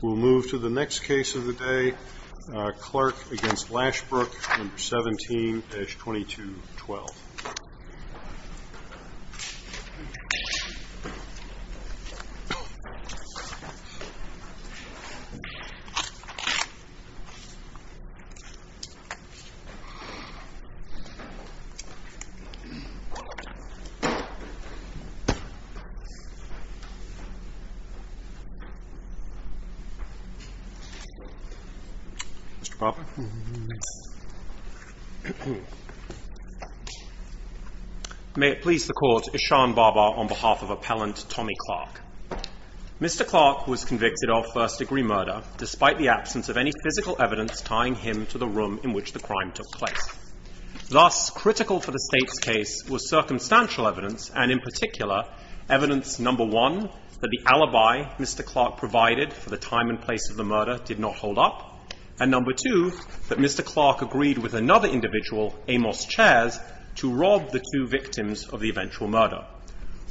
We'll move to the next case of the day, Clark v. Lashbrook, number 17-2212. May it please the Court, Ishan Bhabha on behalf of Appellant Tommy Clark. Mr. Clark was convicted of first-degree murder despite the absence of any physical evidence tying him to the room in which the crime took place. Thus, critical for the State's case was circumstantial evidence, and in particular, evidence number one, that the alibi Mr. Clark provided for the time and place of the murder did not hold up, and number two, that Mr. Clark agreed with another individual, Amos Chares, to rob the two victims of the eventual murder.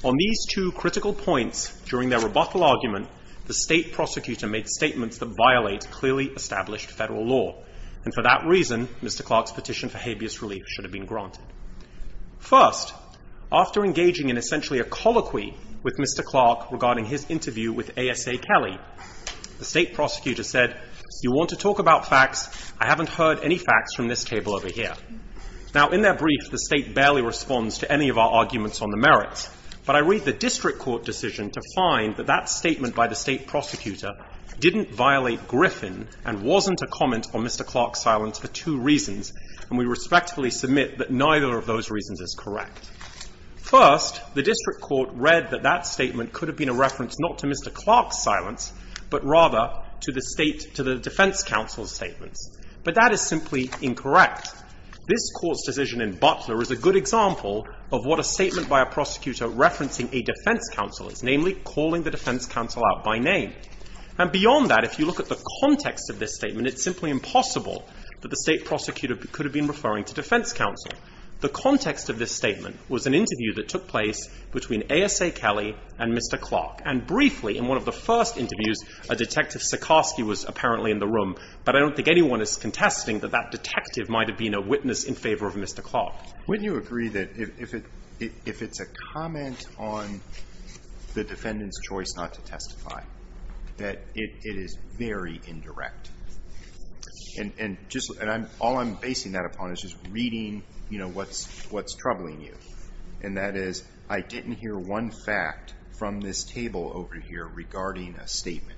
On these two critical points during their rebuttal argument, the State prosecutor made statements that violate clearly established federal law, and for that reason, Mr. Clark's petition for habeas relief should have been granted. First, after engaging in essentially a colloquy with Mr. Clark regarding his interview with ASA Kelly, the State prosecutor said, You want to talk about facts? I haven't heard any facts from this table over here. Now, in their brief, the State barely responds to any of our arguments on the merits, but I read the District Court decision to find that that statement by the State prosecutor didn't violate Griffin and wasn't a comment on Mr. Clark's silence for two reasons, and we respectfully submit that neither of those reasons is correct. First, the District Court read that that statement could have been a reference not to Mr. Clark's silence, but rather to the State, to the defense counsel's statements, but that is simply incorrect. This Court's decision in Butler is a good example of what a statement by a prosecutor referencing a defense counsel is, namely, calling the defense counsel out by name. And beyond that, if you look at the context of this statement, it's referring to defense counsel. The context of this statement was an interview that took place between ASA Kelly and Mr. Clark, and briefly, in one of the first interviews, a Detective Sikorsky was apparently in the room, but I don't think anyone is contesting that that detective might have been a witness in favor of Mr. Clark. When you agree that if it's a comment on the defendant's choice not to testify, that it is very indirect, and just – and I'm – all I'm basing that upon is just reading, you know, what's troubling you, and that is, I didn't hear one fact from this table over here regarding a statement.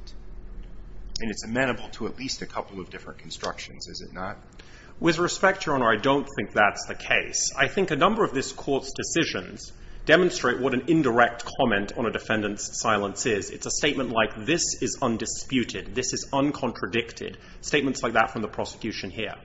And it's amenable to at least a couple of different constructions, is it not? With respect, Your Honor, I don't think that's the case. I think a number of this Court's decisions demonstrate what an indirect comment on a defendant's silence is. It's a statement like, this is undisputed, this is uncontradicted, statements like that from the prosecution here.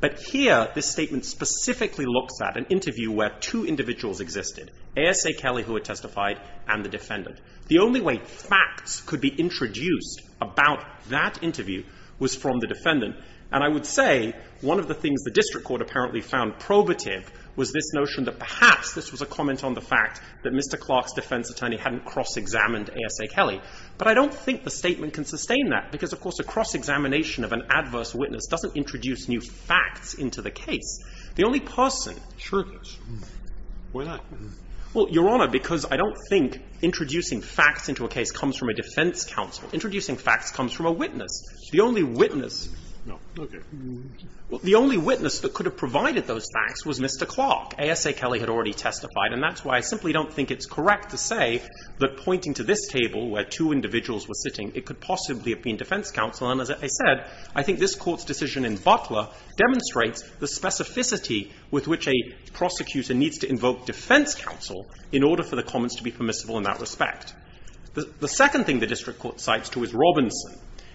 But here, this statement specifically looks at an interview where two individuals existed, ASA Kelly, who had testified, and the defendant. The only way facts could be introduced about that interview was from the defendant, and I would say one of the things the District Court apparently found probative was this notion that perhaps this was a comment on the fact that Mr. Clark's defense attorney hadn't cross-examined ASA Kelly. But I don't think the statement can sustain that, because, of course, a cross-examination of an adverse witness doesn't introduce new facts into the case. The only person – Sure it does. Why not? Well, Your Honor, because I don't think introducing facts into a case comes from a defense counsel. Introducing facts comes from a witness. The only witness – No. Okay. Well, the only witness that could have provided those facts was Mr. Clark. ASA Kelly had already testified, and that's why I simply don't think it's correct to say that pointing to this table where two individuals were sitting, it could possibly have been defense counsel. And as I said, I think this Court's decision in Butler demonstrates the specificity with which a prosecutor needs to invoke defense counsel in order for the comments to be permissible in that respect. The second thing the District Court cites, too, is Robinson.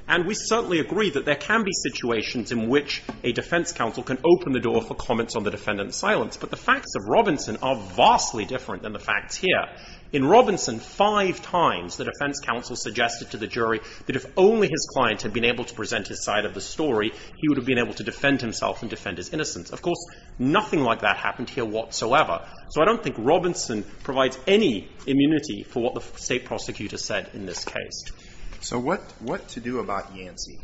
And we certainly agree that there can be situations in which a defense counsel can open the door for comments on the defendant's silence. But the facts of Robinson are vastly different than the facts here. In Robinson, five times the defense counsel suggested to the jury that if only his client had been able to present his side of the story, he would have been able to defend himself and defend his innocence. Of course, nothing like that happened here whatsoever. So I don't think Robinson provides any immunity for what the State prosecutor said in this case. So what – what to do about Yancey?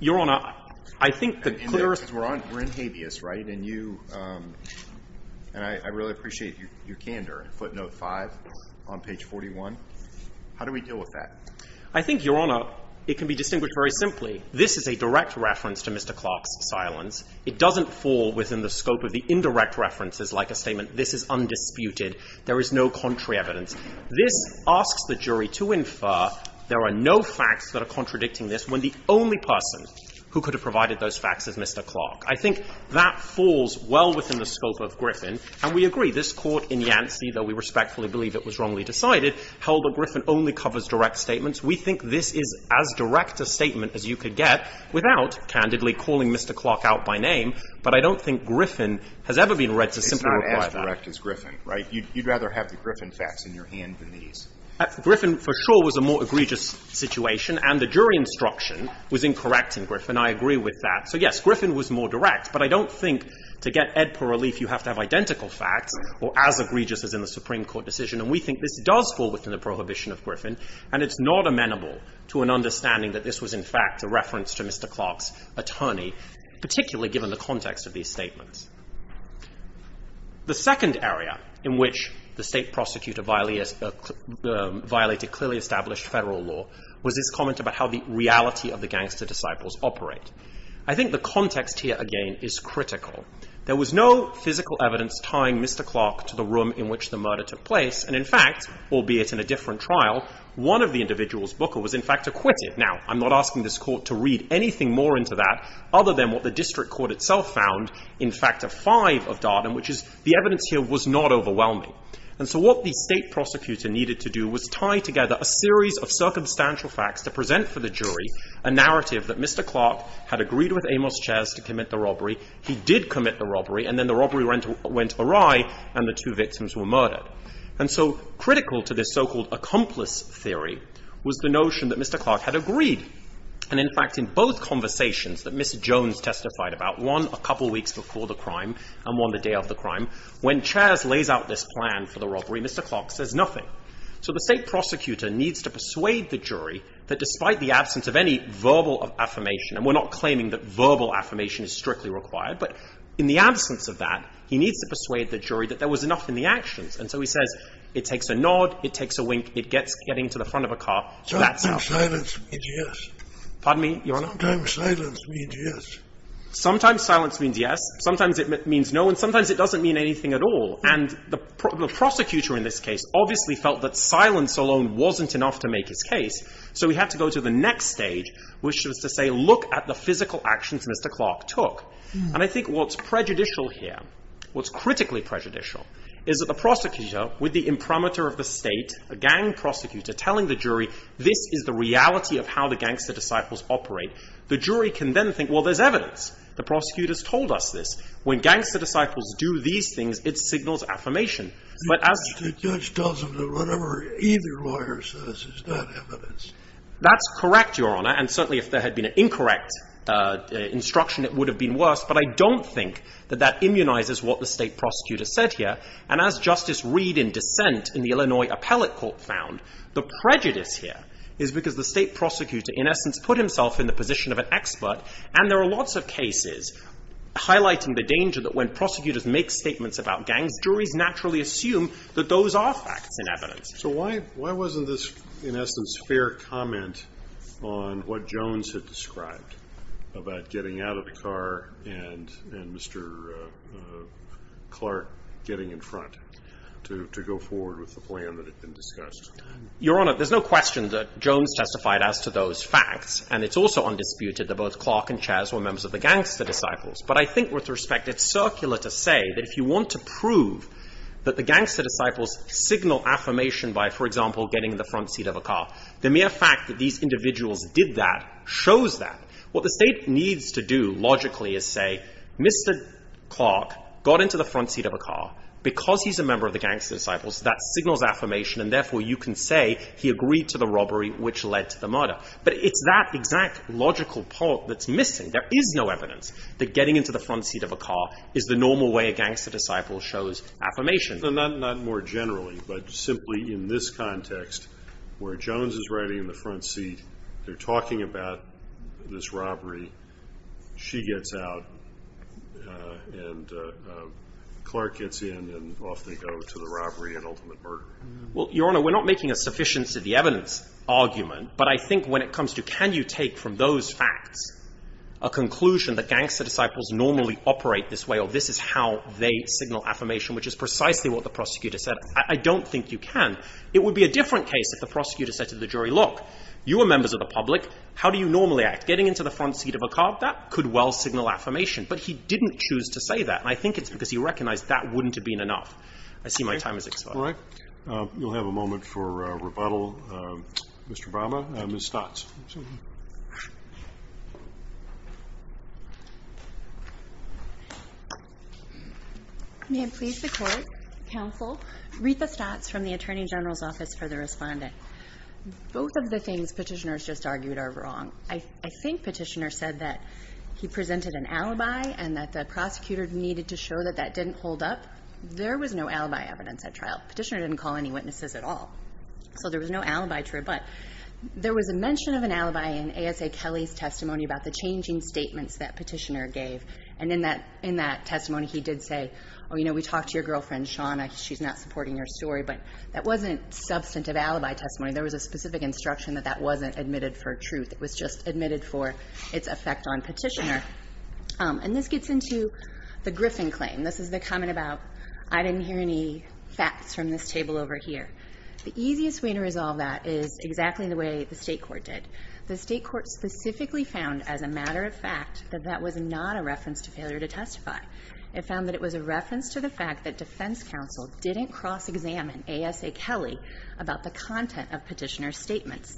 Your Honor, I think the clearest – Justice, we're on – we're in habeas, right? And you – and I – I really appreciate your – your candor. Footnote 5 on page 41. How do we deal with that? I think, Your Honor, it can be distinguished very simply. This is a direct reference to Mr. Clark's silence. It doesn't fall within the scope of the indirect references like a statement, this is undisputed, there is no contrary evidence. This asks the jury to infer there are no facts that are contradicting this when the only person who could have provided those facts is Mr. Clark. I think that falls well within the scope of Griffin. And we agree, this Court in Yancey, though we respectfully believe it was wrongly decided, held that Griffin only covers direct statements. We think this is as direct a statement as you could get without, candidly, calling Mr. Clark out by name. But I don't think Griffin has ever been read to simply require that. It's not as direct as Griffin, right? You'd rather have the Griffin facts in your hand than these. Griffin, for sure, was a more egregious situation, and the jury instruction was incorrect in Griffin. I agree with that. So yes, Griffin was more direct. But I don't think to get ed per relief, you have to have identical facts, or as egregious as in the Supreme Court decision. And we think this does fall within the prohibition of Griffin. And it's not amenable to an understanding that this was, in fact, a reference to Mr. Clark's attorney, particularly given the context of these statements. The second area in which the state prosecutor violated clearly established federal law was this comment about how the reality of the gangster disciples operate. I think the context here, again, is critical. There was no physical evidence tying Mr. Clark to the room in which the murder took place. And in fact, albeit in a different trial, one of the individuals, Booker, was, in fact, acquitted. Now, I'm not asking this court to read anything more into that other than what the district court itself found in Factor 5 of Darden, which is the evidence here was not overwhelming. And so what the state prosecutor needed to do was tie together a series of circumstantial facts to present for the jury a narrative that Mr. Clark had agreed with Amos Chas to commit the robbery. He did commit the robbery. And then the robbery went awry, and the two victims were murdered. And so critical to this so-called accomplice theory was the notion that Mr. Clark had agreed. And in fact, in both conversations that Ms. Jones testified about, one a couple weeks before the crime and one the day of the crime, when Chas lays out this plan for the jury, that despite the absence of any verbal affirmation, and we're not claiming that verbal affirmation is strictly required, but in the absence of that, he needs to persuade the jury that there was enough in the actions. And so he says it takes a nod, it takes a wink, it gets getting to the front of a car, that's enough. Sometimes silence means yes. Pardon me, Your Honor? Sometimes silence means yes. Sometimes silence means yes. Sometimes it means no. And sometimes it doesn't mean anything at all. And the prosecutor in this case obviously felt that silence alone wasn't enough to make his case, so he had to go to the next stage, which was to say look at the physical actions Mr. Clark took. And I think what's prejudicial here, what's critically prejudicial, is that the prosecutor, with the imprimatur of the state, a gang prosecutor telling the jury this is the reality of how the gangster disciples operate, the jury can then think, well, there's evidence. The prosecutor's told us this. When gangster disciples do these things, it signals affirmation. The judge tells them that whatever either lawyer says is not evidence. That's correct, Your Honor. And certainly if there had been an incorrect instruction, it would have been worse. But I don't think that that immunizes what the state prosecutor said here. And as Justice Reed in dissent in the Illinois Appellate Court found, the prejudice here is because the state prosecutor, in essence, put himself in the position of an expert. And there are lots of cases highlighting the danger that when prosecutors make statements about gangs, juries naturally assume that those are facts and evidence. So why wasn't this, in essence, fair comment on what Jones had described about getting out of the car and Mr. Clark getting in front to go forward with the plan that had been discussed? Your Honor, there's no question that Jones testified as to those facts. And it's also undisputed that both Clark and Chaz were members of the gangster disciples. But I think with respect, it's circular to say that if you want to prove that the gangster disciples signal affirmation by, for example, getting in the front seat of a car, the mere fact that these individuals did that shows that. What the state needs to do logically is say, Mr. Clark got into the front seat of a car because he's a member of the gangster disciples. That signals affirmation. And therefore, you can say he agreed to the robbery, which led to the murder. But it's that exact logical part that's missing. There is no evidence that getting into the front seat of a car is the normal way a gangster disciple shows affirmation. So not more generally, but simply in this context, where Jones is riding in the front seat, they're talking about this robbery, she gets out, and Clark gets in, and off they go to the robbery and ultimate murder. Well, Your Honor, we're not making a sufficiency of the evidence argument. But I think when it comes to, can you take from those facts a conclusion that gangster disciples normally operate this way, or this is how they signal affirmation, which is precisely what the prosecutor said, I don't think you can. It would be a different case if the prosecutor said to the jury, look, you are members of the public. How do you normally act? Getting into the front seat of a car, that could well signal affirmation. But he didn't choose to say that. And I think it's because he recognized that wouldn't have been enough. I see my time has expired. You'll have a moment for rebuttal, Mr. Brahma. Ms. Stotts. May I please the court, counsel? Rita Stotts from the Attorney General's Office for the Respondent. Both of the things petitioners just argued are wrong. I think petitioner said that he presented an alibi and that the prosecutor needed to show that that didn't hold up. There was no alibi evidence at trial. Petitioner didn't call any witnesses at all. So there was no alibi true. But there was a mention of an alibi in ASA Kelly's testimony about the changing statements that petitioner gave. And in that testimony, he did say, oh, you know, we talked to your girlfriend, Shawna. She's not supporting your story. But that wasn't substantive alibi testimony. There was a specific instruction that that wasn't admitted for truth. It was just admitted for its effect on petitioner. And this gets into the Griffin claim. This is the comment about, I didn't hear any facts from this table over here. The easiest way to resolve that is exactly the way the state court did. The state court specifically found, as a matter of fact, that that was not a reference to failure to testify. It found that it was a reference to the fact that defense counsel didn't cross-examine ASA Kelly about the content of petitioner's statements.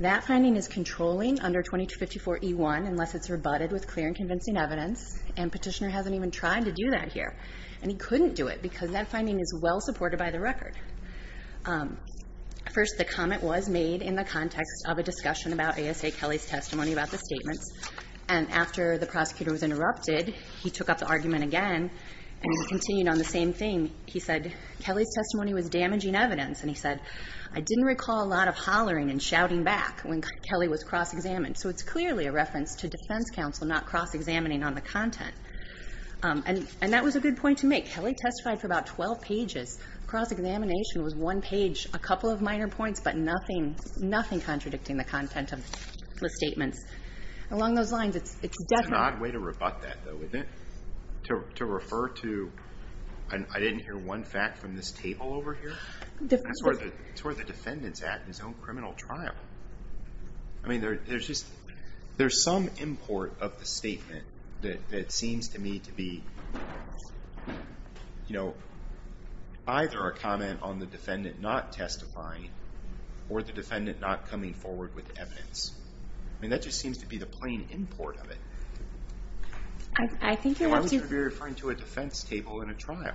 That finding is controlling under 2254E1 unless it's rebutted with clear and convincing evidence. And petitioner hasn't even tried to do that here. And he couldn't do it because that finding is well-supported by the record. First, the comment was made in the context of a discussion about ASA Kelly's testimony about the statements. And after the prosecutor was interrupted, he took up the argument again and he continued on the same thing. He said, Kelly's testimony was damaging evidence. And he said, I didn't recall a lot of hollering and shouting back when Kelly was cross-examined. It's clearly a reference to defense counsel not cross-examining on the content. And that was a good point to make. Kelly testified for about 12 pages. Cross-examination was one page, a couple of minor points, but nothing contradicting the content of the statements. Along those lines, it's definitely- It's an odd way to rebut that, though. To refer to, I didn't hear one fact from this table over here. It's where the defendant's at in his own criminal trial. I mean, there's some import of the statement that seems to me to be either a comment on the defendant not testifying or the defendant not coming forward with evidence. I mean, that just seems to be the plain import of it. I think you have to- And why would you be referring to a defense table in a trial?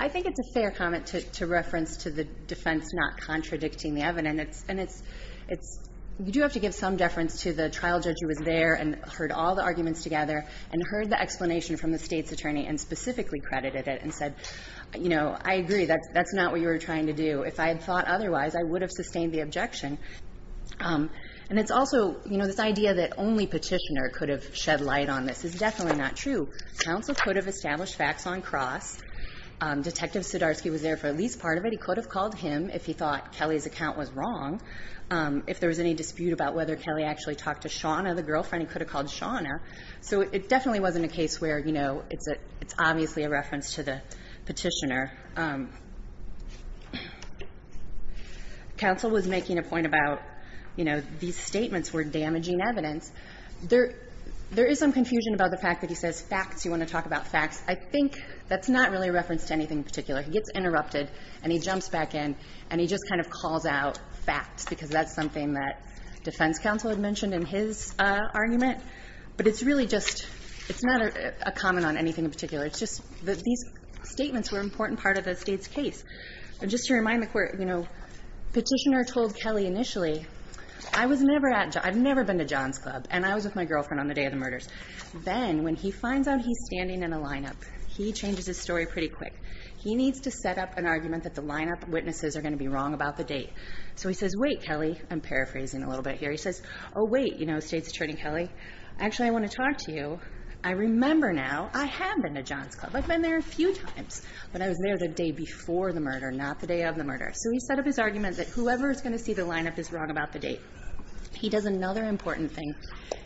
I think it's a fair comment to reference to the defense not contradicting the content of the statements. And you do have to give some deference to the trial judge who was there and heard all the arguments together and heard the explanation from the State's attorney and specifically credited it and said, you know, I agree, that's not what you were trying to do. If I had thought otherwise, I would have sustained the objection. And it's also, you know, this idea that only Petitioner could have shed light on this is definitely not true. Counsel could have established facts on cross. Detective Sudarsky was there for at least part of it. He could have called him if he thought Kelly's account was wrong, if there was any dispute about whether Kelly actually talked to Shauna, the girlfriend. He could have called Shauna. So it definitely wasn't a case where, you know, it's obviously a reference to the Petitioner. Counsel was making a point about, you know, these statements were damaging evidence. There is some confusion about the fact that he says facts, you want to talk about facts. I think that's not really a reference to anything in particular. He gets interrupted and he jumps back in and he just kind of calls out facts because that's something that defense counsel had mentioned in his argument. But it's really just, it's not a comment on anything in particular. It's just that these statements were an important part of the State's case. Just to remind the Court, you know, Petitioner told Kelly initially, I was never at, I've never been to John's Club and I was with my girlfriend on the day of the murders. Then when he finds out he's standing in a lineup, he changes his story pretty quick. He needs to set up an argument that the lineup witnesses are going to be wrong about the date. So he says, wait, Kelly, I'm paraphrasing a little bit here. He says, oh, wait, you know, State's Attorney Kelly, actually, I want to talk to you. I remember now I have been to John's Club. I've been there a few times, but I was there the day before the murder, not the day of the murder. So he set up his argument that whoever is going to see the lineup is wrong about the date. He does another important thing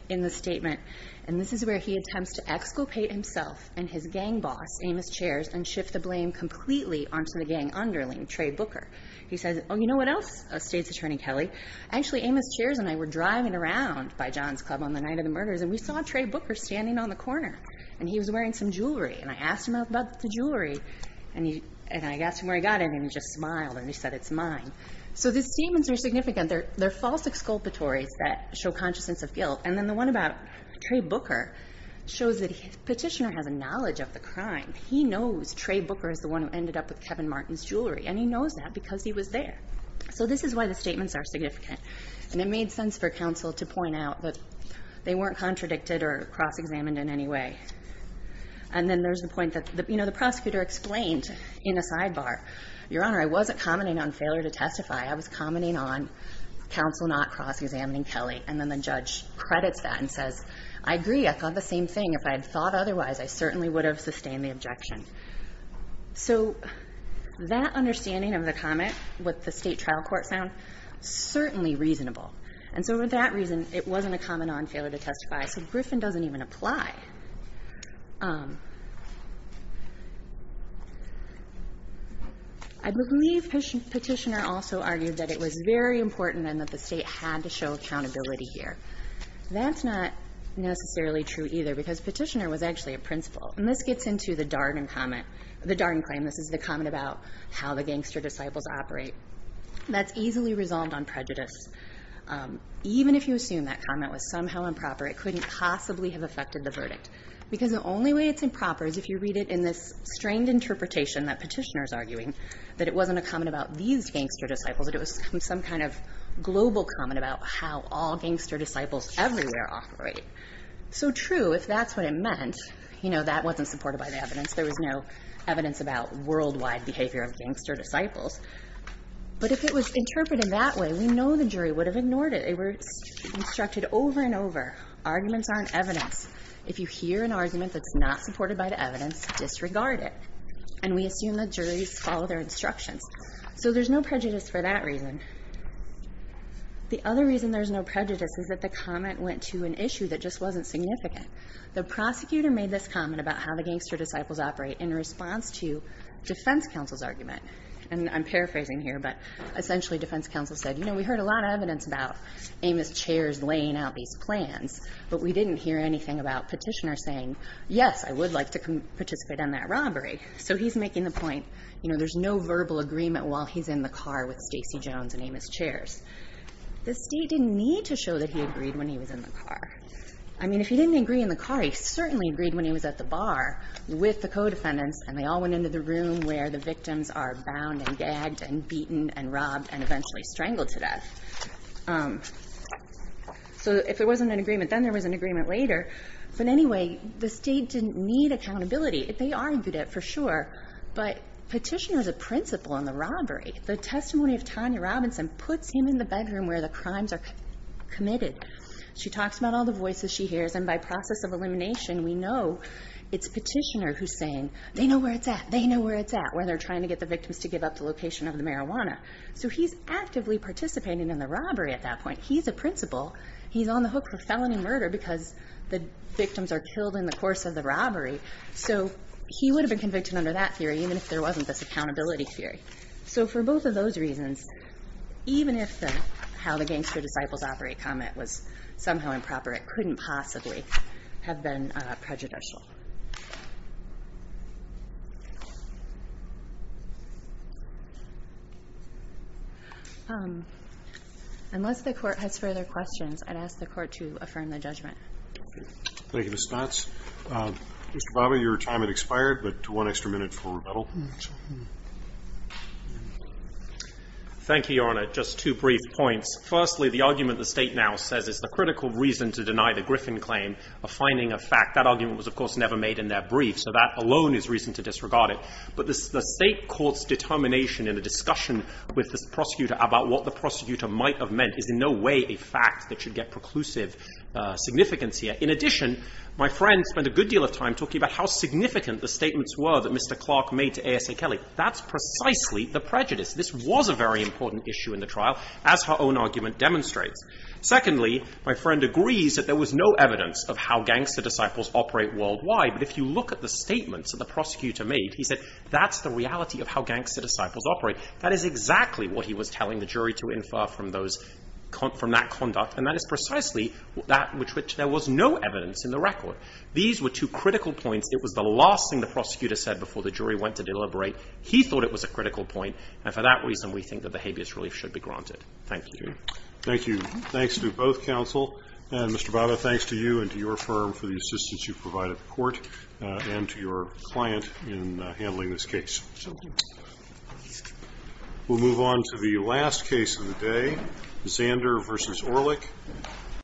in the statement, and this is where he attempts to exculpate himself and his gang boss, Amos Chairs, and shift the blame completely onto the gang underling, Trey Booker. He says, oh, you know what else, State's Attorney Kelly? Actually, Amos Chairs and I were driving around by John's Club on the night of the murders, and we saw Trey Booker standing on the corner, and he was wearing some jewelry. And I asked him about the jewelry, and he, and I asked him where he got it, and he just smiled and he said, it's mine. So these statements are significant. They're false exculpatories that show consciousness of guilt. And then the one about Trey Booker shows that the Petitioner has a knowledge of the crime. He knows Trey Booker is the one who ended up with Kevin Martin's jewelry, and he knows that because he was there. So this is why the statements are significant. And it made sense for counsel to point out that they weren't contradicted or cross-examined in any way. And then there's the point that, you know, the prosecutor explained in a sidebar, Your Honor, I wasn't commenting on failure to testify. I was commenting on counsel not cross-examining Kelly. And then the judge credits that and says, I agree. I thought the same thing. If I had thought otherwise, I certainly would have sustained the objection. So that understanding of the comment, what the state trial court found, certainly reasonable. And so for that reason, it wasn't a comment on failure to testify. So Griffin doesn't even apply. I believe Petitioner also argued that it was very important and that the state had to show accountability here. That's not necessarily true either, because Petitioner was actually a principal. And this gets into the Darden comment, the Darden claim. This is the comment about how the gangster disciples operate. That's easily resolved on prejudice. Even if you assume that comment was somehow improper, it couldn't possibly have affected the verdict. Because the only way it's improper is if you read it in this strained interpretation that Petitioner's arguing, that it wasn't a comment about these gangster disciples, that it was some kind of global comment about how all gangster disciples everywhere operate. So true, if that's what it meant. You know, that wasn't supported by the evidence. There was no evidence about worldwide behavior of gangster disciples. But if it was interpreted that way, we know the jury would have ignored it. They were instructed over and over. Arguments aren't evidence. If you hear an argument that's not supported by the evidence, disregard it. And we assume the juries follow their instructions. So there's no prejudice for that reason. The other reason there's no prejudice is that the comment went to an issue that just wasn't significant. The prosecutor made this comment about how the gangster disciples operate in response to defense counsel's argument. And I'm paraphrasing here, but essentially defense counsel said, you know, we heard a lot of evidence about Amos chairs laying out these plans, but we didn't hear anything about petitioners saying, yes, I would like to participate in that robbery. So he's making the point, you know, there's no verbal agreement while he's in the car with Stacey Jones and Amos chairs. The state didn't need to show that he agreed when he was in the car. I mean, if he didn't agree in the car, he certainly agreed when he was at the bar with the co-defendants, and they all went into the room where the victims are bound and gagged and beaten and robbed and eventually strangled to death. Um, so if there wasn't an agreement, then there was an agreement later. But anyway, the state didn't need accountability. They argued it for sure. But petitioner is a principle in the robbery. The testimony of Tanya Robinson puts him in the bedroom where the crimes are committed. She talks about all the voices she hears. And by process of elimination, we know it's petitioner who's saying they know where it's at. They know where it's at, where they're trying to get the victims to give up the location of the marijuana. So he's actively participating in the robbery at that point. He's a principle. He's on the hook for felony murder because the victims are killed in the course of the robbery. So he would have been convicted under that theory, even if there wasn't this accountability theory. So for both of those reasons, even if the how the gangster disciples operate comment was somehow improper, it couldn't possibly have been prejudicial. Unless the court has further questions, I'd ask the court to affirm the judgment. Thank you, Ms. Knott. Mr. Bava, your time has expired, but one extra minute for rebuttal. Thank you, Your Honor. Just two brief points. Firstly, the argument the state now says is the critical reason to deny the Griffin claim of finding a fact. That argument was, of course, never made in that brief. So that alone is reason to disregard it. But the state court's determination in the discussion with the prosecutor about what the prosecutor might have meant is in no way a fact that should get preclusive significance here. In addition, my friend spent a good deal of time talking about how significant the statements were that Mr. Clark made to ASA Kelly. That's precisely the prejudice. This was a very important issue in the trial, as her own argument demonstrates. Secondly, my friend agrees that there was no evidence of how gangster disciples operate worldwide. But if you look at the statements that the prosecutor made, he said, that's the reality of how gangster disciples operate. That is exactly what he was telling the jury to infer from that conduct. And that is precisely that which there was no evidence in the record. These were two critical points. It was the last thing the prosecutor said before the jury went to deliberate. He thought it was a critical point. And for that reason, we think that the habeas relief should be granted. Thank you. Thank you. Thanks to both counsel. And Mr. Bada, thanks to you and to your firm for the assistance you provide at court and to your client in handling this case. We'll move on to the last case of the day, Zander v. Orlik.